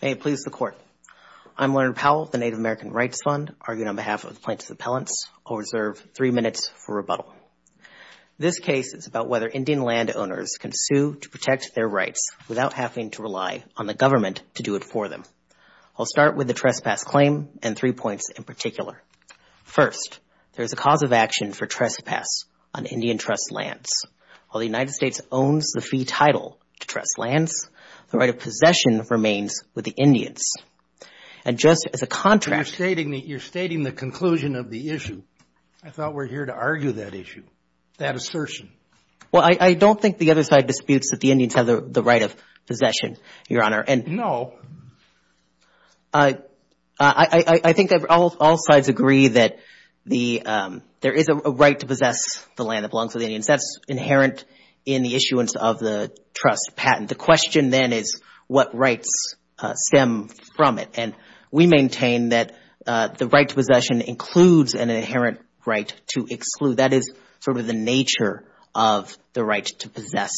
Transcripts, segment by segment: May it please the Court. I'm Leonard Powell of the Native American Rights Fund, arguing on behalf of the Plaintiffs' Appellants. I'll reserve three minutes for rebuttal. This case is about whether Indian landowners can sue to protect their rights without having to rely on the government to do it for them. I'll start with the trespass claim and three points in particular. First, there is a cause of action for trespass on Indian trust lands. While the United States owns the fee title to trust lands, the right of possession remains with the Indians. And just as a contrast... You're stating the conclusion of the issue. I thought we're here to argue that issue, that assertion. Well, I don't think the other side disputes that the Indians have the right of possession, Your Honor. No. I think all sides agree that there is a right to possess the land that belongs to the Indians. That's inherent in the issuance of the trust patent. The question then is what rights stem from it? And we maintain that the right to possession includes an inherent right to exclude. That is sort of the nature of the right to possess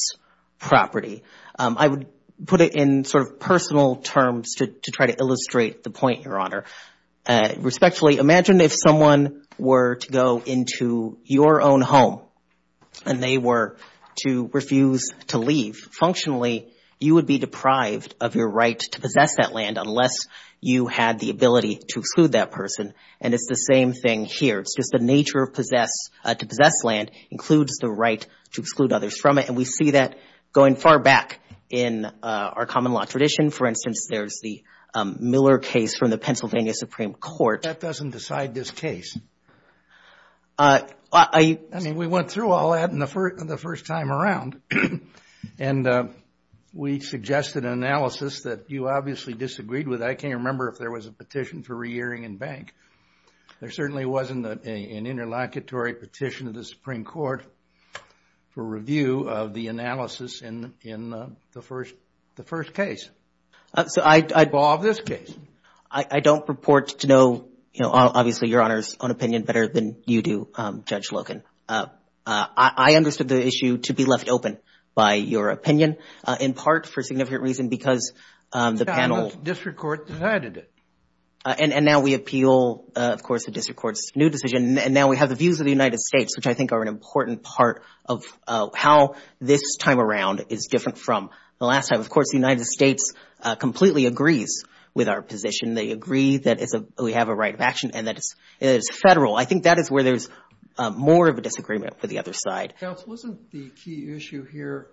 property. I would put it in sort of personal terms to try to illustrate the point, Your Honor. Respectfully, imagine if someone were to go into your own home and they were to refuse to leave. Functionally, you would be deprived of your right to possess that land unless you had the ability to exclude that person. And it's the same thing here. It's the right to exclude others from it. And we see that going far back in our common law tradition. For instance, there's the Miller case from the Pennsylvania Supreme Court. That doesn't decide this case. I mean, we went through all that the first time around. And we suggested an analysis that you obviously disagreed with. I can't remember if there was a petition for re-earring and bank. There certainly wasn't an interlocutory petition of the Supreme Court. For review of the analysis in the first case. So I don't report to know, you know, obviously, Your Honor's own opinion better than you do, Judge Logan. I understood the issue to be left open by your opinion, in part for significant reason, because the panel. District Court decided it. And now we appeal, of course, the district court's new decision. And now we have the views of the United States, which I think are an important part of how this time around is different from the last time. Of course, the United States completely agrees with our position. They agree that we have a right of action and that it's federal. I think that is where there's more of a disagreement with the other side. Counsel, isn't the key issue here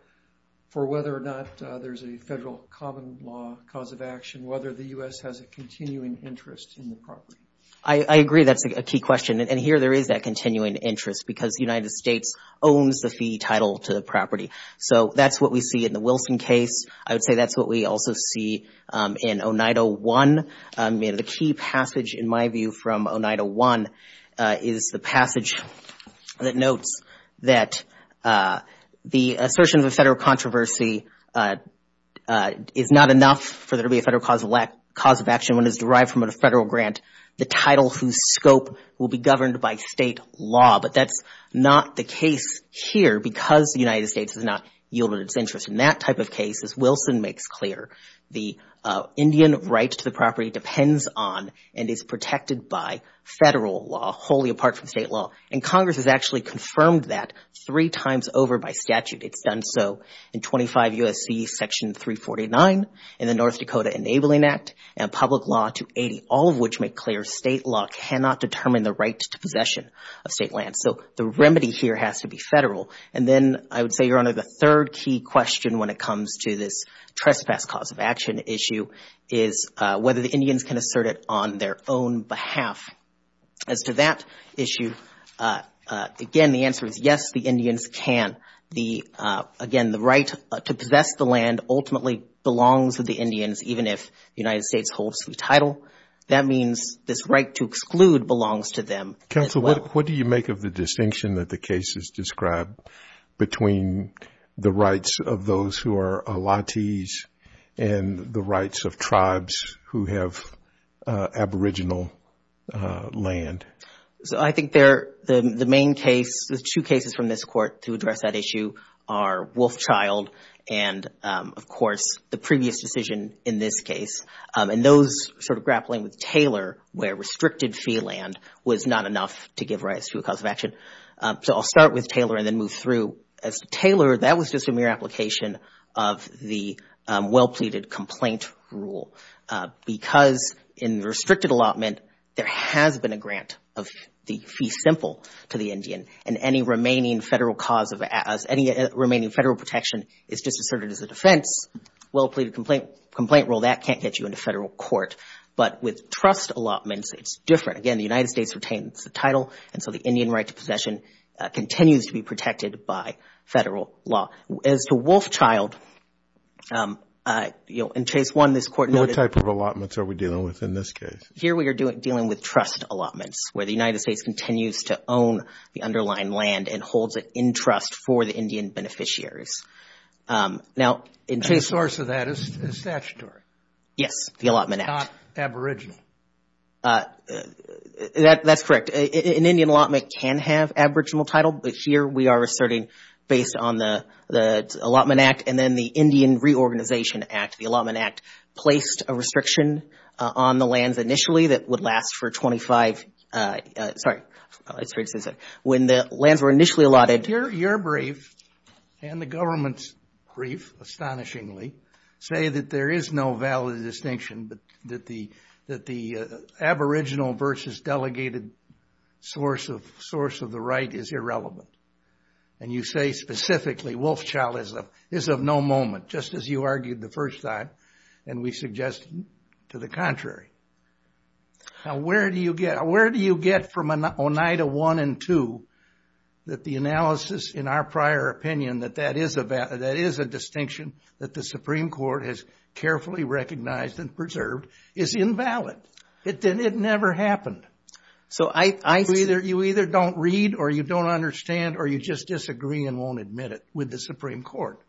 for whether or not there's a federal common law cause of action, whether the U.S. has a continuing interest in the property? I agree that's a key question. And here there is that continuing interest because the United States owns the fee title to the property. So that's what we see in the Wilson case. I would say that's what we also see in 0901. The key passage, in my view, from 0901 is the passage that notes that the assertion of a federal controversy is not enough for there to be a federal cause of action when it is derived from a federal grant, the title whose scope will be governed by state law. But that's not the case here because the United States has not yielded its interest. In that type of case, as Wilson makes clear, the Indian right to the property depends on and is protected by federal law, wholly apart from state law. And Congress has actually confirmed that three times over by statute. It's done so in 25 U.S.C. Section 349 in the North Dakota Enabling Act and public law 280, all of which make clear state law cannot determine the right to possession of state land. So the remedy here has to be federal. And then I would say, Your Honor, the third key question when it comes to this trespass cause of action issue is whether the Indians can assert it on their own behalf. As to that issue, again, the answer is yes, the Indians can. Again, the right to possess the land ultimately belongs to the Indians, even if the United States holds the title. That means this right to exclude belongs to them as well. Counsel, what do you make of the distinction that the case has described between the rights of those who are Aulottese and the rights of tribes who have aboriginal land? So I think the main case, the two cases from this court to address that issue are Wolfchild and, of course, the previous decision in this case. And those sort of grappling with Taylor where restricted fee land was not enough to give rights to a cause of action. So I'll start with Taylor and then move through. As to Taylor, that was just a mere application of the well-pleaded complaint rule because in restricted allotment, there has been a grant of the fee simple to the Indian and any remaining federal cause of any remaining federal protection is just asserted as a defense. Well-pleaded complaint rule, that can't get you into federal court. But with trust allotments, it's different. Again, the United States retains the title. And so the Indian right to possession continues to be protected by federal law. As to Wolfchild, you know, in case one, this court noted. What type of allotments are we dealing with in this case? Here we are dealing with trust allotments where the United States continues to own the underlying land and holds it in trust for the Indian beneficiaries. Now, the source of that is statutory. Yes, the Allotment Act. Not aboriginal. That's correct. An Indian allotment can have aboriginal title. But here we are asserting based on the Allotment Act and then the Indian Reorganization Act. The Allotment Act placed a restriction on the lands initially that would last for 25, sorry, when the lands were initially allotted. Your brief and the government's brief, astonishingly, say that there is no valid distinction that the aboriginal versus delegated source of the right is irrelevant. And you say specifically Wolfchild is of no moment, just as you argued the first time. And we suggest to the contrary. Now, where do you get from Oneida 1 and 2 that the analysis in our prior opinion that that is a distinction that the Supreme Court has carefully recognized and preserved is invalid? It never happened. So I see. You either don't read or you don't understand or you just disagree and won't admit it with the Supreme Court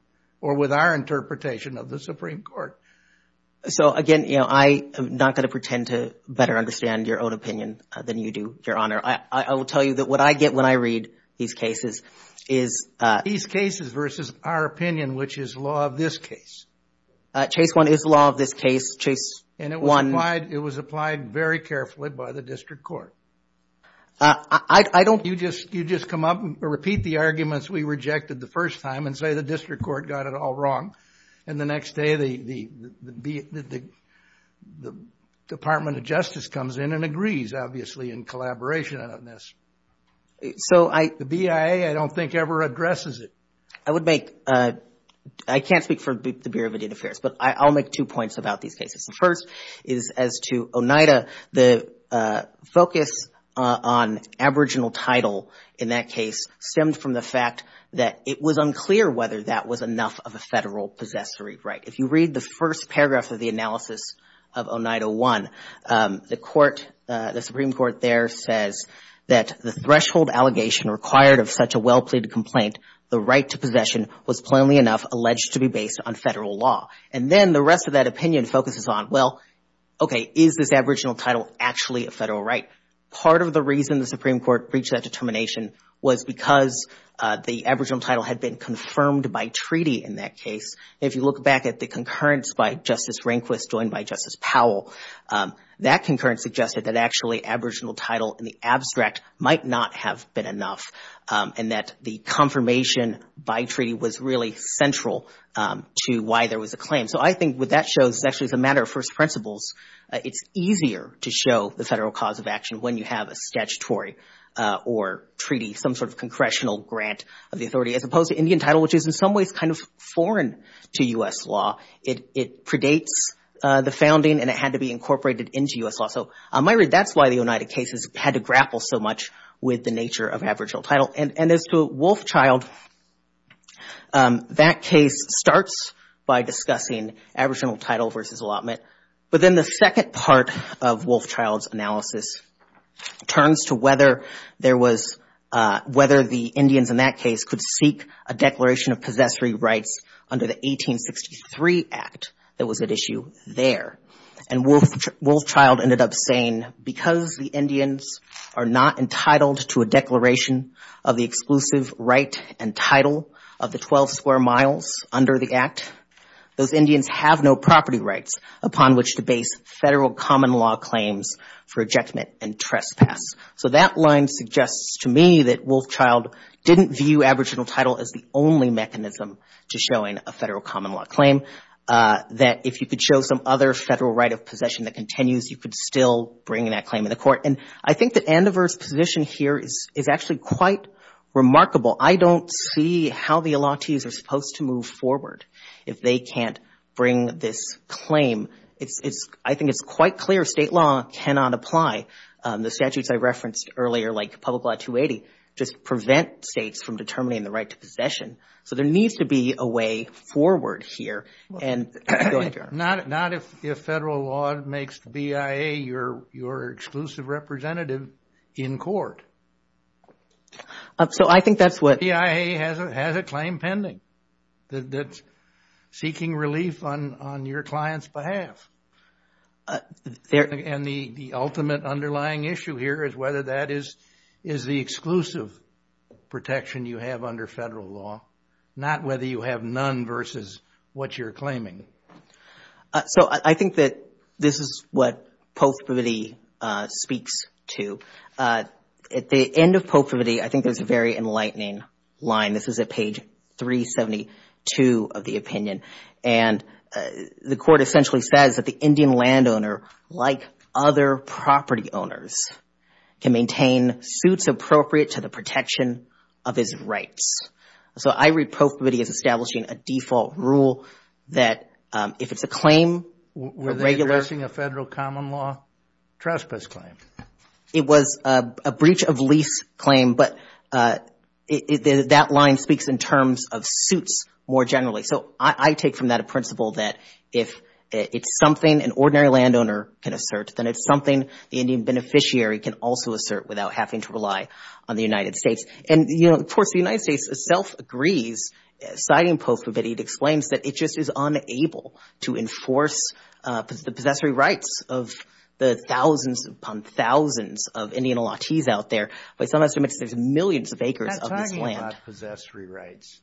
or with our interpretation of the Supreme Court. So, again, you know, I am not going to pretend to better understand your own opinion than you do, Your Honor. I will tell you that what I get when I read these cases is. These cases versus our opinion, which is law of this case. Chase 1 is the law of this case. And it was applied very carefully by the district court. I don't. You just come up and repeat the arguments we rejected the first time and say the district court got it all wrong. And the next day, the Department of Justice comes in and agrees, obviously, in collaboration on this. So the BIA, I don't think ever addresses it. I would make, I can't speak for the Bureau of Indian Affairs, but I'll make two points about these cases. The first is as to Oneida, the focus on aboriginal title in that case stemmed from the fact that it was unclear whether that was enough of a federal possessory right. If you read the first paragraph of the analysis of Oneida 1, the court, the Supreme Court there says that the threshold allegation required of such a well-pleaded complaint, the right to possession was plainly enough alleged to be based on federal law. And then the rest of that opinion focuses on, well, OK, is this aboriginal title actually a federal right? Part of the reason the Supreme Court reached that determination was because the aboriginal title had been confirmed by treaty in that case. If you look back at the concurrence by Justice Rehnquist joined by Justice Powell, that concurrence suggested that actually aboriginal title in the abstract might not have been enough and that the confirmation by treaty was really central to why there was a claim. So I think what that shows is actually as a matter of first principles, it's easier to show the federal cause of action when you have a statutory or treaty, some sort of congressional grant of the authority, as opposed to Indian title, which is in some ways kind of foreign to U.S. law. It predates the founding and it had to be incorporated into U.S. law. So that's why the Oneida cases had to grapple so much with the nature of aboriginal title. And as to Wolfchild, that case starts by discussing aboriginal title versus allotment. But then the second part of Wolfchild's analysis turns to whether there was whether the Indians in that case could seek a declaration of possessory rights under the 1863 Act that was at issue there. And Wolfchild ended up saying, because the Indians are not entitled to a declaration of the exclusive right and title of the 12 square miles under the Act, those Indians have no property rights upon which to base federal common law claims for ejectment and trespass. So that line suggests to me that Wolfchild didn't view aboriginal title as the only mechanism to showing a federal common law claim, that if you could show some other federal right of possession that continues, you could still bring that claim in the court. And I think that Andover's position here is actually quite remarkable. I don't see how the allottees are supposed to move forward if they can't bring this claim. It's I think it's quite clear state law cannot apply. The statutes I referenced earlier, like Public Law 280, just prevent states from determining the right to possession. So there needs to be a way forward here. And not if federal law makes BIA your exclusive representative in court. So I think that's what BIA has a claim pending that's seeking relief on your client's behalf. And the ultimate underlying issue here is whether that is is the exclusive protection you have under federal law, not whether you have none versus what you're claiming. So I think that this is what Pope Vividi speaks to. At the end of Pope Vividi, I think there's a very enlightening line. This is at page 372 of the opinion. And the court essentially says that the Indian landowner, like other property owners, can maintain suits appropriate to the protection of his rights. So I read Pope Vividi as establishing a default rule that if it's a claim. Were they addressing a federal common law trespass claim? It was a breach of lease claim. But that line speaks in terms of suits more generally. So I take from that a principle that if it's something an ordinary landowner can assert, then it's something the Indian beneficiary can also assert without having to rely on the United States. And, you know, of course, the United States itself agrees, citing Pope Vividi, it explains that it just is unable to enforce the possessory rights of the thousands upon thousands of Indian latis out there. But it's not as much as there's millions of acres of this land. Possessory rights.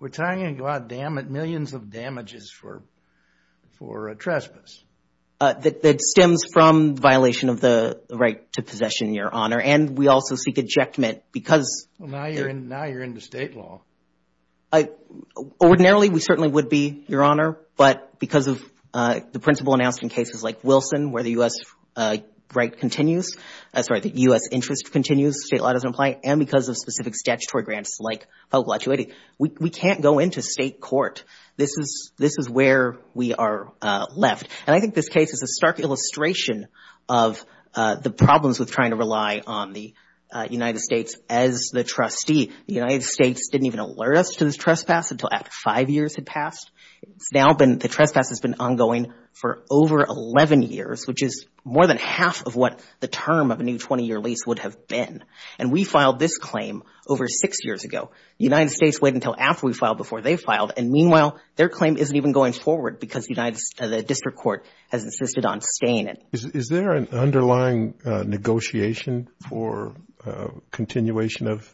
We're talking about millions of damages for a trespass. That stems from violation of the right to possession, Your Honor. And we also seek ejectment because. Well, now you're into state law. Ordinarily, we certainly would be, Your Honor. But because of the principle announced in cases like Wilson, where the U.S. right continues, sorry, the U.S. interest continues, state law doesn't apply. And because of specific statutory grants like public law 280, we can't go into state court. This is this is where we are left. And I think this case is a stark illustration of the problems with trying to rely on the United States as the trustee. The United States didn't even alert us to this trespass until after five years had passed. It's now been the trespass has been ongoing for over 11 years, which is more than half of what the term of a new 20 year lease would have been. And we filed this claim over six years ago. The United States waited until after we filed before they filed. And meanwhile, their claim isn't even going forward because the district court has insisted on staying. Is there an underlying negotiation for continuation of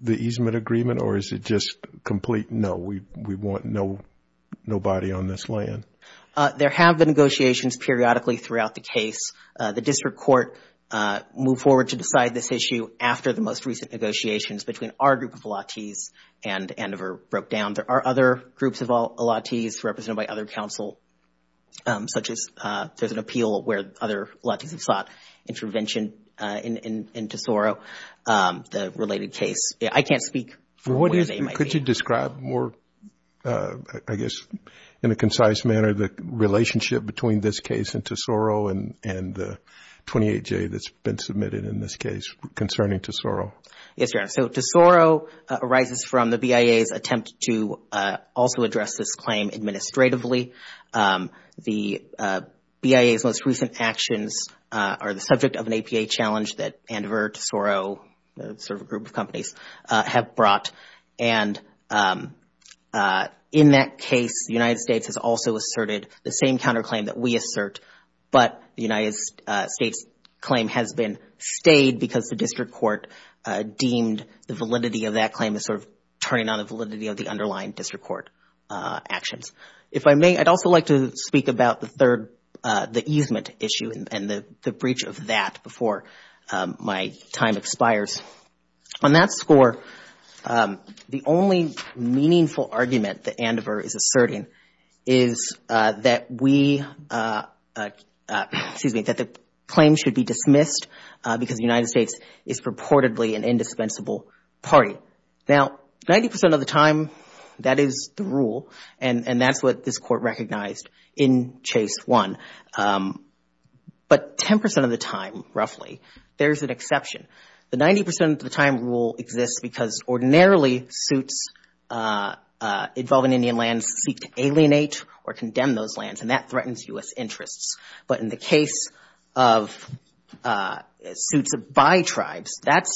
the easement agreement or is it just complete? No, we we want no nobody on this land. There have been negotiations periodically throughout the case. The district court moved forward to decide this issue after the most recent negotiations between our group of allottees and Andover broke down. There are other groups of allottees represented by other counsel, such as there's an appeal where other allottees have sought intervention in Tesoro, the related case. I can't speak for what it is. Could you describe more, I guess, in a concise manner, the relationship between this case and Tesoro and the 28-J that's been submitted in this case concerning Tesoro? Yes, Your Honor. So Tesoro arises from the BIA's attempt to also address this claim administratively. The BIA's most recent actions are the subject of an APA challenge that Andover, Tesoro, sort of a group of companies have brought. And in that case, the United States has also asserted the same counterclaim that we assert. But the United States claim has been stayed because the district court deemed the validity of that claim as sort of turning on the validity of the underlying district court actions. If I may, I'd also like to speak about the third, the easement issue and the breach of that before my time expires. On that score, the only meaningful argument that Andover is asserting is that we excuse me, that the claim should be dismissed because the United States is purportedly an indispensable party. Now, 90 percent of the time, that is the rule. And that's what this court recognized in Chase 1. But 10 percent of the time, roughly, there's an exception. The 90 percent of the time rule exists because ordinarily suits involving Indian lands seek to alienate or condemn those lands, and that threatens U.S. interests. But in the case of suits by tribes, that's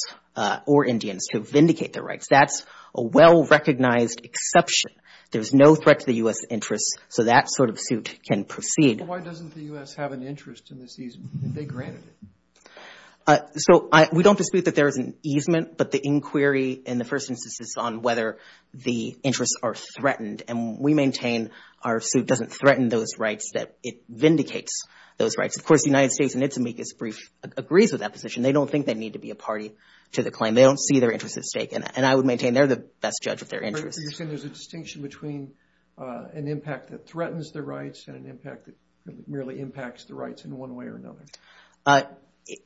or Indians to vindicate their rights. That's a well-recognized exception. There's no threat to the U.S. interests. So that sort of suit can proceed. Why doesn't the U.S. have an interest in this easement if they granted it? So we don't dispute that there is an easement, but the inquiry in the first instance is on whether the interests are threatened. And we maintain our suit doesn't threaten those rights, that it vindicates those rights. Of course, the United States, in its amicus brief, agrees with that position. They don't think they need to be a party to the claim. They don't see their interests at stake. And I would maintain they're the best judge of their interests. But you're saying there's a distinction between an impact that threatens the rights and an impact that merely impacts the rights in one way or another?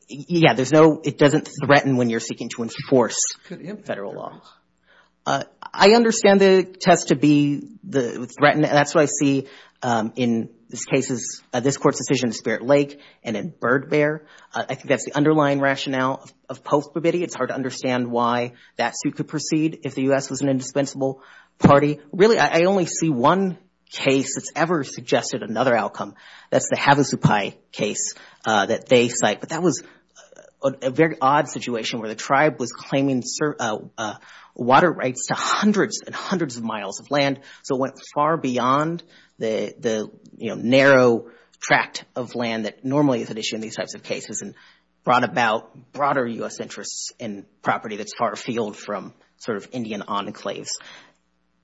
Yeah, there's no, it doesn't threaten when you're seeking to enforce federal law. I understand the test to be threatened. And that's what I see in this case's, this court's decision in Spirit Lake and in Bird Bear. I think that's the underlying rationale of post-mobility. It's hard to understand why that suit could proceed if the U.S. was an indispensable party. Really, I only see one case that's ever suggested another outcome. That's the Havasupai case that they cite. But that was a very odd situation where the tribe was claiming water rights to hundreds and hundreds of miles of land. So it went far beyond the narrow tract of land that normally is at issue in these types of cases and brought about broader U.S. interests in property that's far afield from sort of Indian enclaves.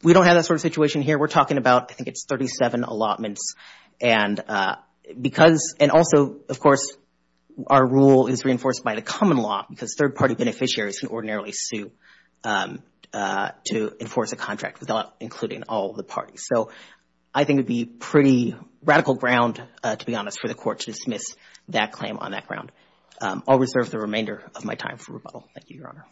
We don't have that sort of situation here. We're talking about, I think it's 37 allotments. And because, and also, of course, our rule is reinforced by the common law because third party beneficiaries can ordinarily sue to enforce a contract without including all the parties. So I think it'd be pretty radical ground, to be honest, for the court to dismiss that claim on that ground. I'll reserve the remainder of my time for rebuttal. Thank you, Your Honor.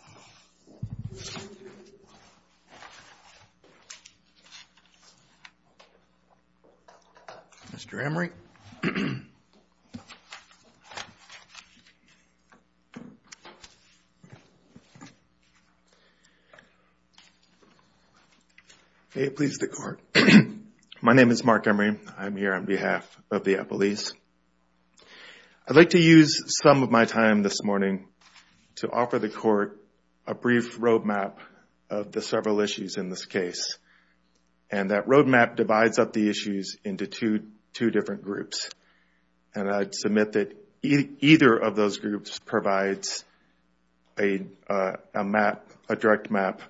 Mr. Emery. May it please the court. My name is Mark Emery. I'm here on behalf of the Appalachians. I'd like to use some of my time this morning to offer the court a brief roadmap of the several issues in this case. And that roadmap divides up the issues into two different groups. And I'd submit that either of those groups provides a map, a direct map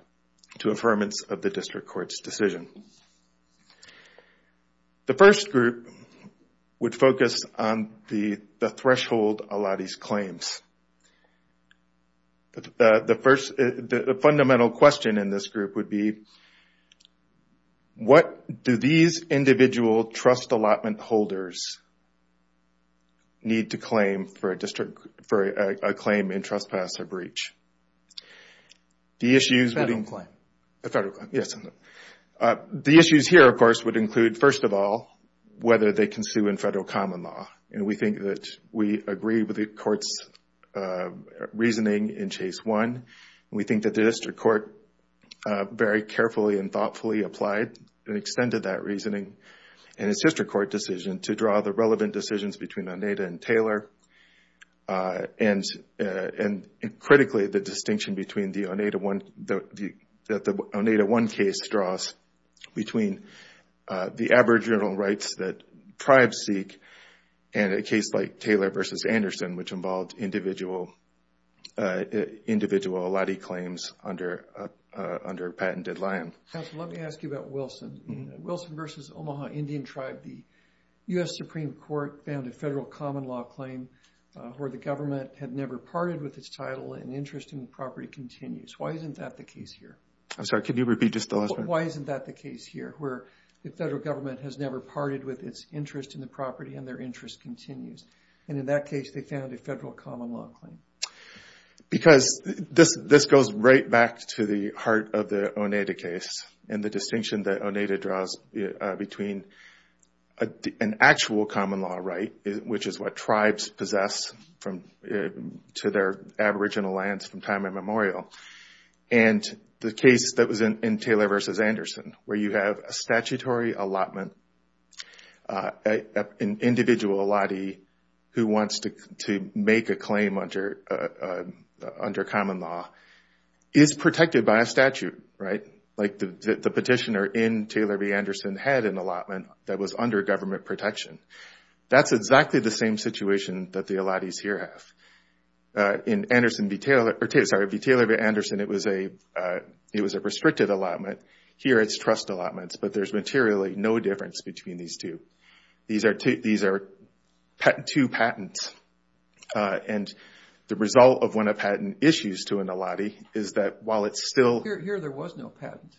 to affirmance of the district court's decision. The first group would focus on the threshold allottees claims. The first, the fundamental question in this group would be, what do these individual trust allotment holders need to claim for a claim in trespass or breach? The issues would be... Federal claim. The federal claim, yes. The issues here, of course, would include, first of all, whether they can sue in federal common law. And we think that we agree with the court's reasoning in case one. We think that the district court very carefully and thoughtfully applied and extended that reasoning. And it's just a court decision to draw the relevant decisions between Oneida and Taylor. And critically, the distinction between the Oneida one case draws between the aboriginal rights that tribes seek and a case like Taylor versus Anderson, which involved individual allottee claims under patented land. Let me ask you about Wilson. Wilson versus Omaha Indian tribe. The U.S. Supreme Court found a federal common law claim where the government had never parted with its title and interest in the property continues. Why isn't that the case here? I'm sorry, can you repeat just the last part? Why isn't that the case here, where the federal government has never parted with its interest in the property and their interest continues? And in that case, they found a federal common law claim. Because this goes right back to the heart of the Oneida case and the distinction that Oneida draws between an actual common law right, which is what tribes possess to their aboriginal lands from time immemorial, and the case that was in Taylor versus Anderson, where you have a statutory allotment, an individual allottee who wants to make a claim under common law is protected by a statute, right? Like the petitioner in Taylor v. Anderson had an allotment that was under government protection. That's exactly the same situation that the allottees here have. In Anderson v. Taylor, or Taylor v. Anderson, it was a restricted allotment. Here, it's trust allotments, but there's materially no difference between these two. These are two patents. And the result of when a patent issues to an allottee is that while it's still... Here, there was no patent.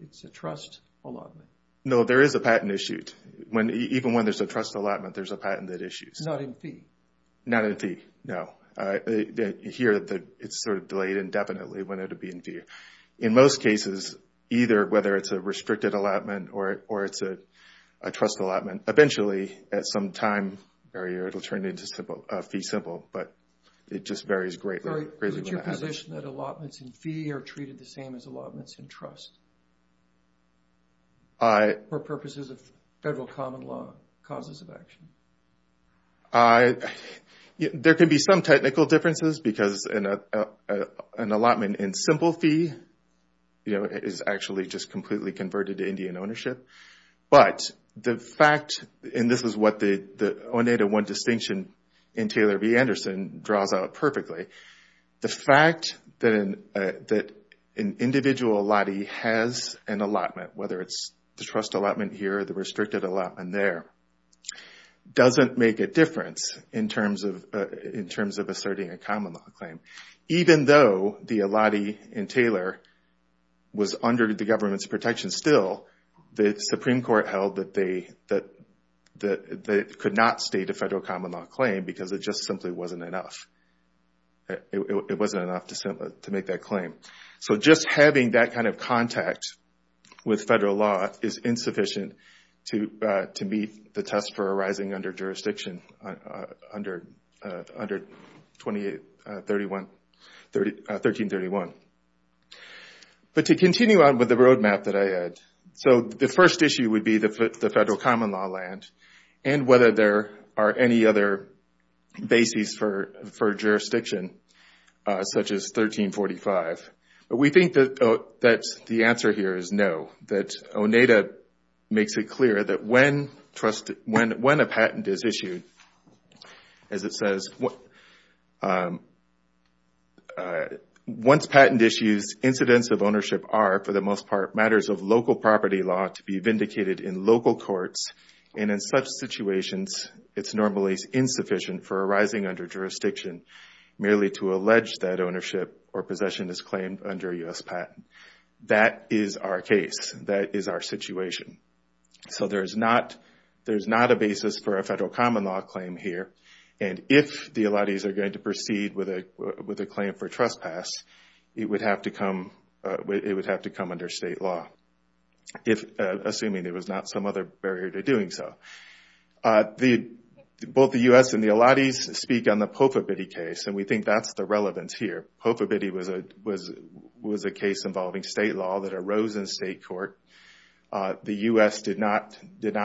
It's a trust allotment. No, there is a patent issued. Even when there's a trust allotment, there's a patent that issues. Not in fee? Not in fee, no. Here, it's sort of delayed indefinitely when it would be in fee. In most cases, either whether it's a restricted allotment or it's a trust allotment, eventually, at some time barrier, it'll turn into fee simple. But it just varies greatly. So, is it your position that allotments in fee are treated the same as allotments in trust? For purposes of federal common law, causes of action? There can be some technical differences because an allotment in simple fee is actually just completely converted to Indian ownership. But the fact, and this is what the Oneida One distinction in Taylor v. Anderson draws out perfectly. The fact that an individual allottee has an allotment, whether it's the trust allotment here or the restricted allotment there, doesn't make a difference in terms of asserting a common law claim. Even though the allottee in Taylor was under the government's protection still, the Supreme Court held that they could not state a federal common law claim because it just simply wasn't enough. It wasn't enough to make that claim. So, just having that kind of contact with federal law is insufficient to meet the test for arising under jurisdiction under 1331. But to continue on with the roadmap that I had, so the first issue would be the federal common law land and whether there are any other bases for jurisdiction such as 1345. But we think that the answer here is no. That Oneida makes it clear that when a patent is issued, as it says, once patent issues, incidents of ownership are, for the most part, matters of local property law to be vindicated in local courts. And in such situations, it's normally insufficient for arising under jurisdiction merely to allege that ownership or possession is claimed under a U.S. patent. That is our case. That is our situation. So, there's not a basis for a federal common law claim here. And if the allottees are going to proceed with a claim for trespass, it would have to come under state law, assuming there was not some other barrier to doing so. Both the U.S. and the allottees speak on the Pofabitty case, and we think that's the relevance here. Pofabitty was a case involving state law that arose in state court. The U.S. did not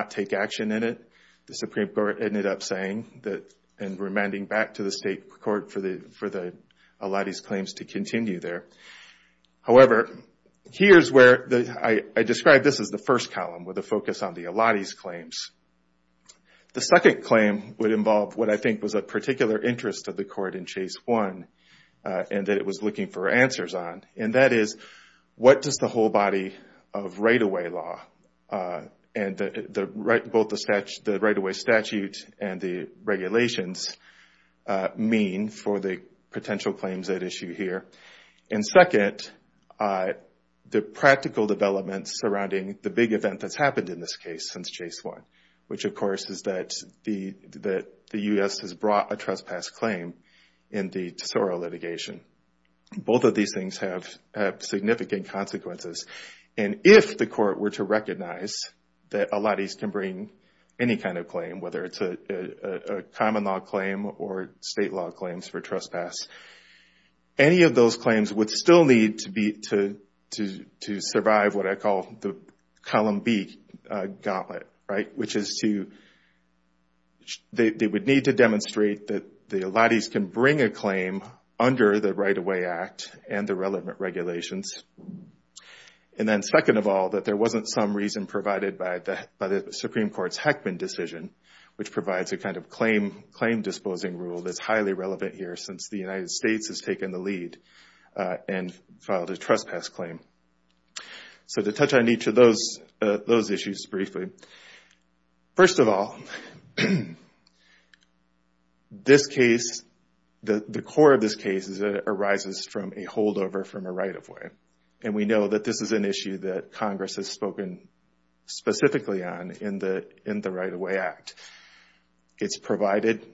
take action in it. The Supreme Court ended up saying that and remanding back to the state court for the allottees' claims to continue there. However, here's where I describe this as the first column with a focus on the allottees' claims. The second claim would involve what I think was a particular interest of the court in Chase 1 and that it was looking for answers on. And that is, what does the whole body of right-of-way law and both the right-of-way statute and the regulations mean for the potential claims at issue here? And second, the practical developments surrounding the big event that's happened in this case since Chase 1, which of course is that the U.S. has brought a trespass claim in the Tesoro litigation. Both of these things have significant consequences. And if the court were to recognize that allottees can bring any kind of claim, whether it's a common law claim or state law claims for trespass, any of those claims would still need to survive what I call the column B gauntlet, right? Which is to, they would need to demonstrate that the allottees can bring a claim under the Right-of-Way Act and the relevant regulations. And then second of all, that there wasn't some reason provided by the Supreme Court's Heckman decision, which provides a kind of claim disposing rule that's highly relevant here since the United States has taken the lead and filed a trespass claim. So to touch on each of those issues briefly. First of all, this case, the core of this case is that it arises from a holdover from a right-of-way. And we know that this is an issue that Congress has spoken specifically on in the Right-of-Way Act. It's provided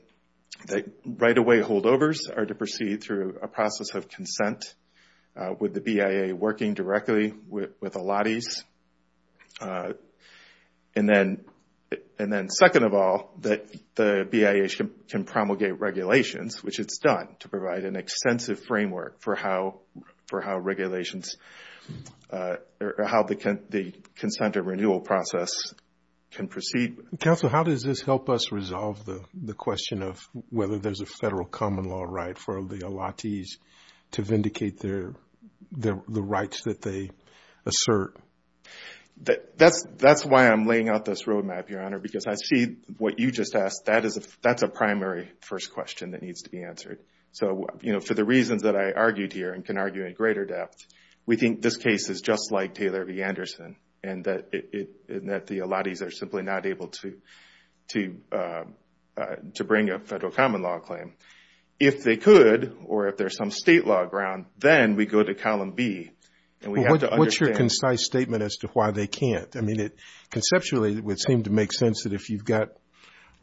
that right-of-way holdovers are to proceed through a process of consent with the BIA working directly with allottees. And then second of all, that the BIA can promulgate regulations, which it's done to provide an extensive framework for how regulations or how the consent or renewal process can proceed. Counsel, how does this help us resolve the question of whether there's a federal common law right for the allottees to vindicate the rights that they assert? That's why I'm laying out this roadmap, Your Honor, because I see what you just asked, that's a primary first question that needs to be answered. So, you know, for the reasons that I argued here and can argue in greater depth, we think this case is just like Taylor v. Anderson and that the allottees are simply not able to bring a federal common law claim. If they could, or if there's some state law ground, then we go to column B. What's your concise statement as to why they can't? I mean, conceptually, it would seem to make sense that if you've got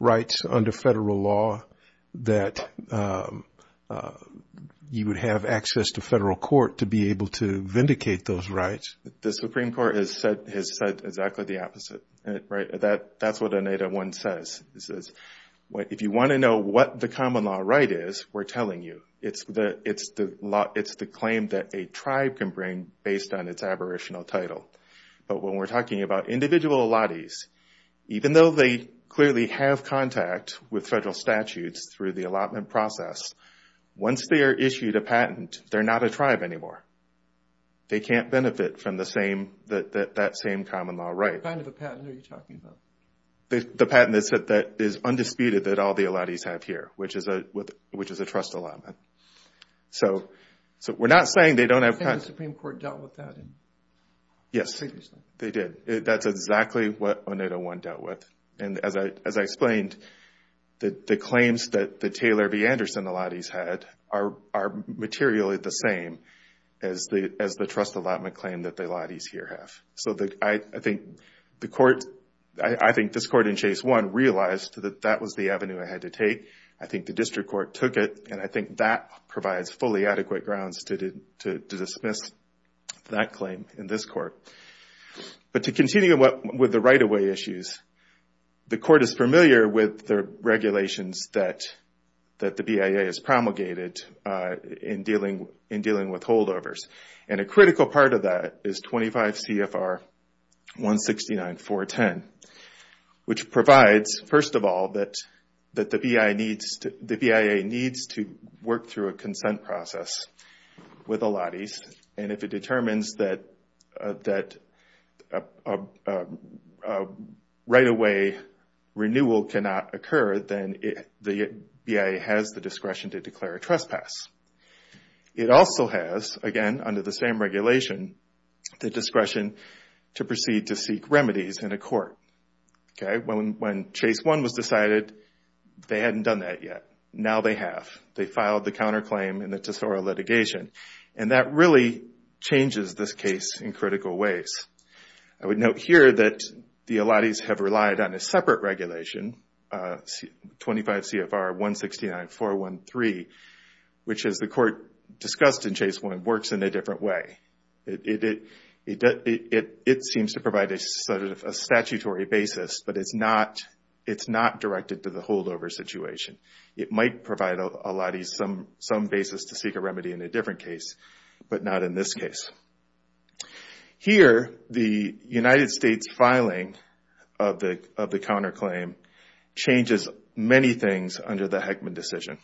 rights under federal law, that you would have access to federal court to be able to vindicate those rights. The Supreme Court has said exactly the opposite. That's what an 801 says. It says, if you want to know what the common law right is, we're telling you. It's the claim that a tribe can bring based on its aboriginal title. But when we're talking about individual allottees, even though they clearly have contact with federal statutes through the allotment process, once they are issued a patent, they're not a tribe anymore. They can't benefit from that same common law right. What kind of a patent are you talking about? The patent that is undisputed that all the allottees have here, which is a trust allotment. So we're not saying they don't have... I think the Supreme Court dealt with that previously. Yes, they did. That's exactly what 801 dealt with. And as I explained, the claims that the Taylor v. Anderson allottees had are materially the same as the trust allotment claim that the allottees here have. So I think the court, I think this court in Chase 1 realized that that was the avenue I had to take. I think the district court took it. And I think that provides fully adequate grounds to dismiss that claim in this court. But to continue with the right-of-way issues, the court is familiar with the regulations that the BIA has promulgated in dealing with holdovers. And a critical part of that is 25 CFR 169.410, which provides, first of all, that the BIA needs to work through a consent process with allottees. And if it determines that right-of-way renewal cannot occur, then the BIA has the discretion to declare a trespass. It also has, again, under the same regulation, the discretion to proceed to seek remedies in a court. Okay, when Chase 1 was decided, they hadn't done that yet. Now they have. They filed the counterclaim in the Tesoro litigation. And that really changes this case in critical ways. I would note here that the allottees have relied on a separate regulation, 25 CFR 169.413, which, as the court discussed in Chase 1, works in a different way. It seems to provide a statutory basis, but it's not directed to the holdover situation. It might provide allottees some basis to seek a remedy in a different case, but not in this case. Here, the United States filing of the counterclaim changes many things under the Heckman decision.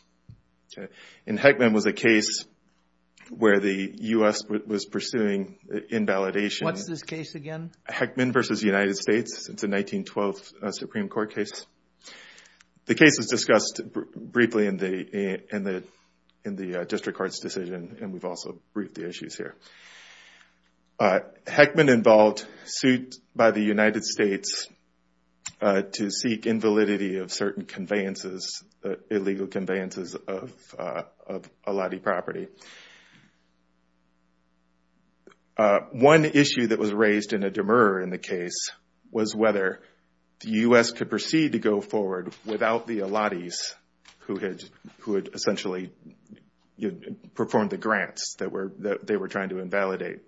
Okay, and Heckman was a case where the U.S. was pursuing invalidation. What's this case again? Heckman v. United States. It's a 1912 Supreme Court case. The case was discussed briefly in the district court's decision, and we've also briefed the issues here. Heckman involved suit by the United States to seek invalidity of certain conveyances, illegal conveyances of allottee property. One issue that was raised in a demur in the case was whether the U.S. could proceed to go forward without the allottees who had essentially performed the grants that they were trying to invalidate.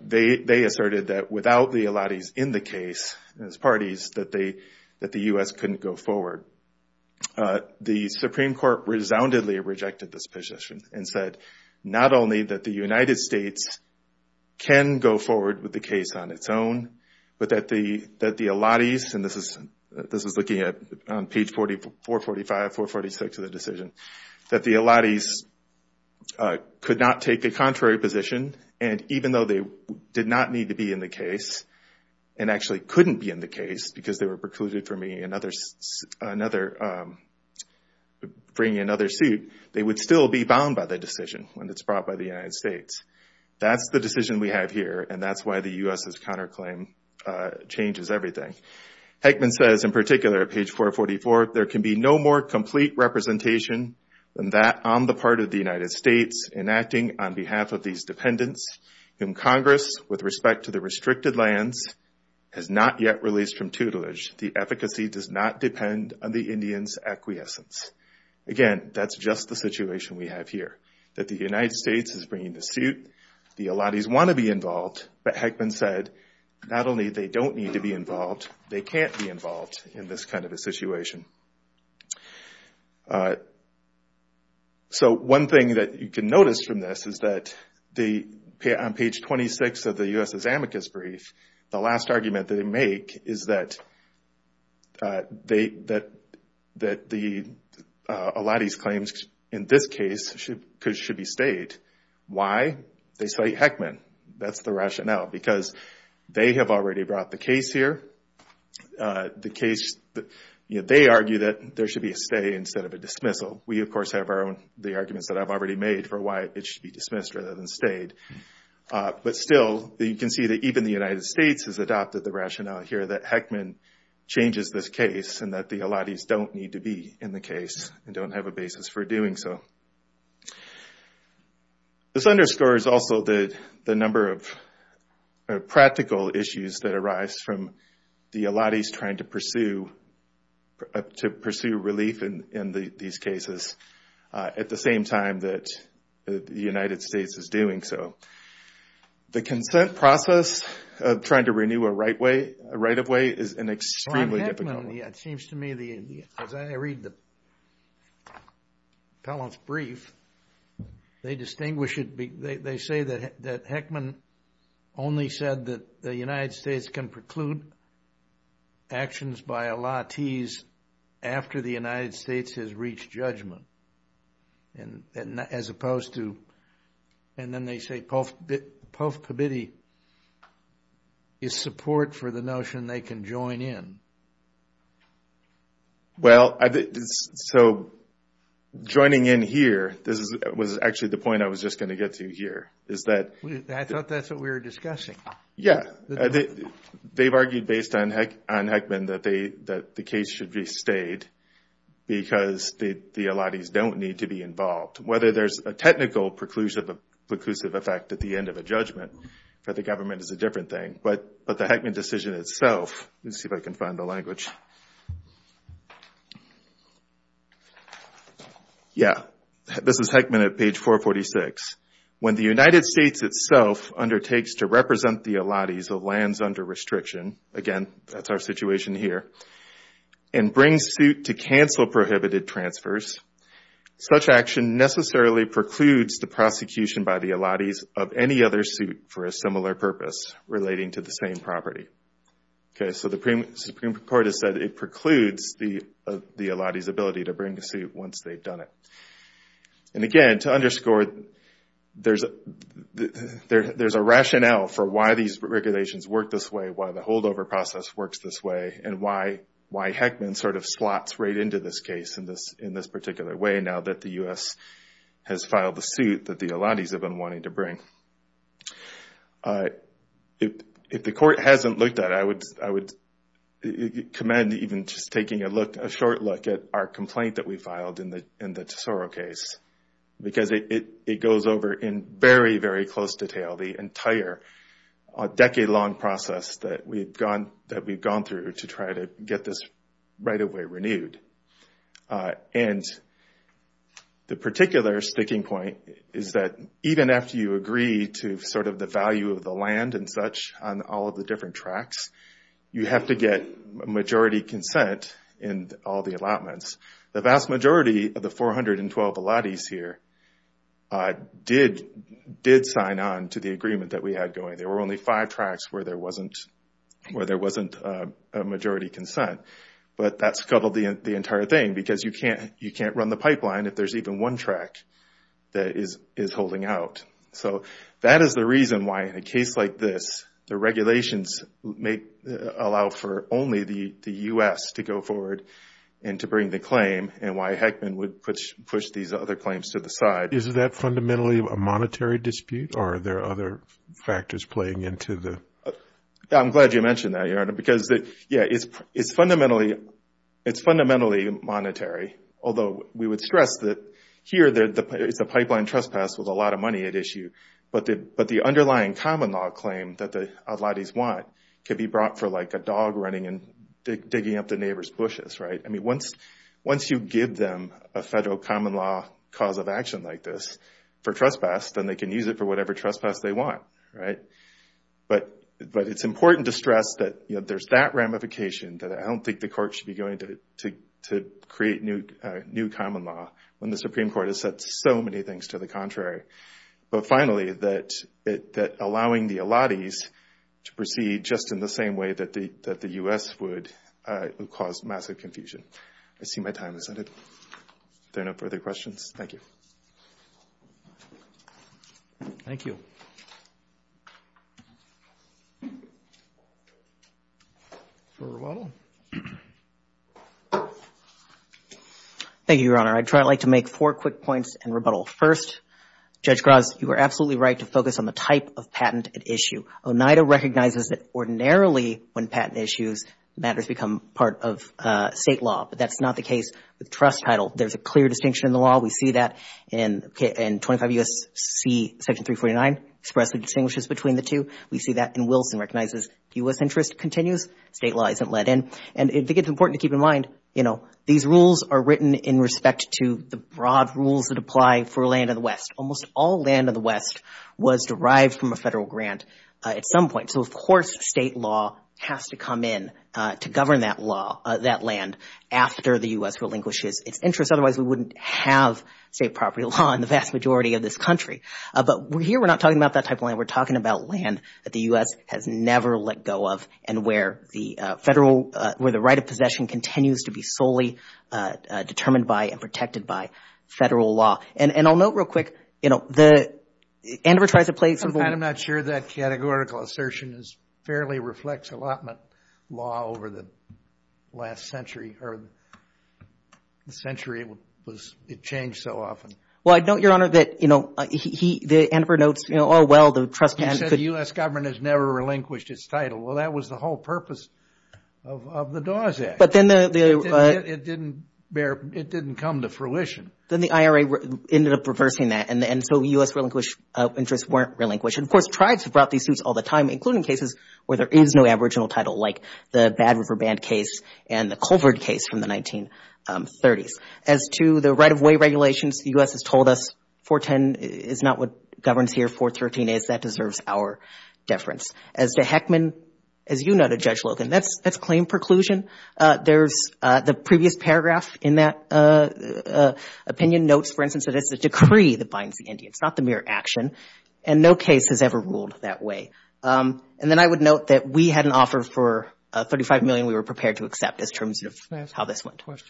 They asserted that without the allottees in the case as parties, that the U.S. couldn't go forward. The Supreme Court resoundedly rejected this position and said not only that the United States can go forward with the case on its own, but that the allottees, and this is looking at on page 445, 446 of the decision, that the allottees could not take the contrary position, and even though they did not need to be in the case and actually couldn't be in the case because they were precluded from bringing another suit, they would still be bound by the decision when it's brought by the United States. That's the decision we have here, and that's why the U.S.'s counterclaim changes everything. Heckman says in particular, page 444, there can be no more complete representation than that on the part of the United States enacting on behalf of these dependents whom Congress, with respect to the restricted lands, has not yet released from tutelage. The efficacy does not depend on the Indians' acquiescence. Again, that's just the situation we have here, that the United States is bringing the suit, the allottees want to be involved, but Heckman said not only they don't need to be involved, they can't be involved in this kind of a situation. So one thing that you can notice from this is that on page 26 of the U.S.'s amicus brief, the last argument they make is that the allottees' claims in this case should be stayed. Why? They cite Heckman. That's the rationale, because they have already brought the case here. They argue that there should be a stay instead of a dismissal. We, of course, have the arguments that I've already made for why it should be dismissed rather than stayed. But still, you can see that even the United States has adopted the rationale here that Heckman changes this case and that the allottees don't need to be in the case and don't have a basis for doing so. This underscores also the number of practical issues that arise from the allottees trying to pursue relief in these cases at the same time that the United States is doing so. The consent process of trying to renew a right-of-way is an extremely difficult one. It seems to me, as I read the appellant's brief, they distinguish it. They say that Heckman only said that the United States can preclude actions by allottees after the United States has reached judgment, as opposed to... And then they say Povkabidi is support for the notion they can join in. Well, so joining in here, this was actually the point I was just going to get to here. I thought that's what we were discussing. Yeah, they've argued based on Heckman that the case should be stayed because the allottees don't need to be involved. Whether there's a technical preclusive effect at the end of a judgment for the government is a different thing, but the Heckman decision itself... Let's see if I can find the language. Yeah, this is Heckman at page 446. When the United States itself undertakes to represent the allottees of lands under restriction, again, that's our situation here, and brings suit to cancel prohibited transfers, such action necessarily precludes the prosecution by the allottees of any other suit for a similar purpose relating to the same property. Okay, so the Supreme Court has said it precludes the allottees' ability to bring a suit once they've done it. And again, to underscore, there's a rationale for why these regulations work this way, why the holdover process works this way, and why Heckman sort of slots right into this case in this particular way, now that the U.S. has filed the suit that the allottees have been wanting to bring. If the court hasn't looked at it, I would commend even just taking a look, a short look at our complaint that we filed in the Tesoro case, because it goes over in very, very close detail the entire decade-long process that we've gone through to try to get this right away renewed. And the particular sticking point is that even after you agree to sort of the value of the land and such on all of the different tracts, you have to get majority consent in all the allotments. The vast majority of the 412 allottees here did sign on to the agreement that we had going. There were only five tracts where there wasn't a majority consent. But that scuttled the entire thing, you can't run the pipeline if there's even one tract that is holding out. So that is the reason why in a case like this, the regulations allow for only the U.S. to go forward and to bring the claim and why Heckman would push these other claims to the side. Is that fundamentally a monetary dispute or are there other factors playing into the? I'm glad you mentioned that, Your Honor, because yeah, it's fundamentally monetary. Although we would stress that here, it's a pipeline trespass with a lot of money at issue. But the underlying common law claim that the allottees want could be brought for like a dog running and digging up the neighbor's bushes, right? I mean, once you give them a federal common law cause of action like this for trespass, then they can use it for whatever trespass they want, right? But it's important to stress that there's that ramification that I don't think the court should be going to create new common law when the Supreme Court has said so many things to the contrary. But finally, that allowing the allottees to proceed just in the same way that the U.S. would cause massive confusion. I see my time is ended. There are no further questions. Thank you. Thank you. For rebuttal. Thank you, Your Honor. I'd like to make four quick points and rebuttal. First, Judge Graz, you were absolutely right to focus on the type of patent at issue. Oneida recognizes that ordinarily when patent issues, matters become part of state law. But that's not the case with trust title. There's a clear distinction in the law. We see that in 25 U.S.C. section 349, expressly distinguishes between the two. We see that in Wilson recognizes U.S. interest continues. State law isn't let in. And I think it's important to keep in mind, you know, these rules are written in respect to the broad rules that apply for land of the West. Almost all land of the West was derived from a federal grant at some point. So of course, state law has to come in to govern that law, that land after the U.S. relinquishes its interest. Otherwise, we wouldn't have state property law in the vast majority of this country. But here, we're not talking about that type of land. We're talking about land that the U.S. has never let go of and where the federal, where the right of possession continues to be solely determined by and protected by federal law. And I'll note real quick, you know, the, Andover tries to play some- I'm not sure that categorical assertion is fairly reflects allotment law over the last century or the century it was, it changed so often. Well, I don't, Your Honor, that, you know, he, the Andover notes, you know, oh, well, the trust- You said the U.S. government has never relinquished its title. Well, that was the whole purpose of the Dawes Act. But then the- It didn't bear, it didn't come to fruition. Then the IRA ended up reversing that. And so U.S. relinquished, interests weren't relinquished. And of course, tribes have brought these suits all the time, including cases where there is no aboriginal title, like the Bad River Band case and the Colvard case from the 1930s. As to the right-of-way regulations, the U.S. has told us 410 is not what governs here, 413 is. That deserves our deference. As to Heckman, as you noted, Judge Logan, that's claim preclusion. There's the previous paragraph in that opinion notes, for instance, that it's the decree that binds the Indians, not the mere action. And no case has ever ruled that way. And then I would note that we had an offer for $35 million we were prepared to accept as terms of how this went. Can I ask a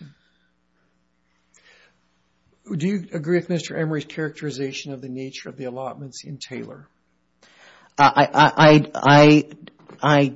question? Do you agree with Mr. Emory's characterization of the nature of the allotments in Taylor? I, I, I, I,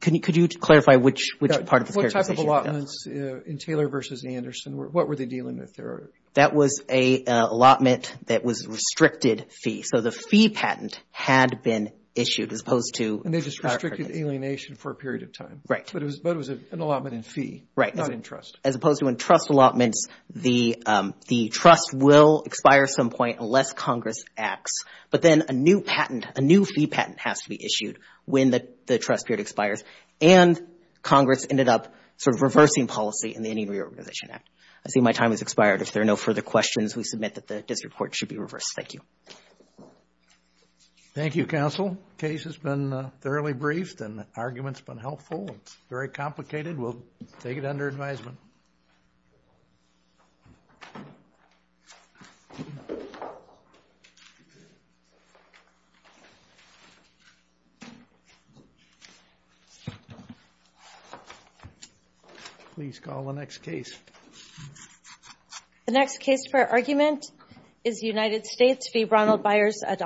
could you clarify which part of the characterization? What type of allotments in Taylor versus Anderson? What were they dealing with there? That was an allotment that was restricted fee. So the fee patent had been issued as opposed to... And they just restricted alienation for a period of time. But it was an allotment in fee, not in trust. As opposed to when trust allotments, the trust will expire at some point unless Congress acts. But then a new patent, a new fee patent has to be issued when the trust period expires. And Congress ended up sort of reversing policy in the Indian Reorganization Act. I see my time has expired. If there are no further questions, we submit that the district court should be reversed. Thank you. Thank you, counsel. Case has been thoroughly briefed and the argument's been helpful. It's very complicated. We'll take it under advisement. Please call the next case. The next case for argument is United States v. Ronald Byers et al.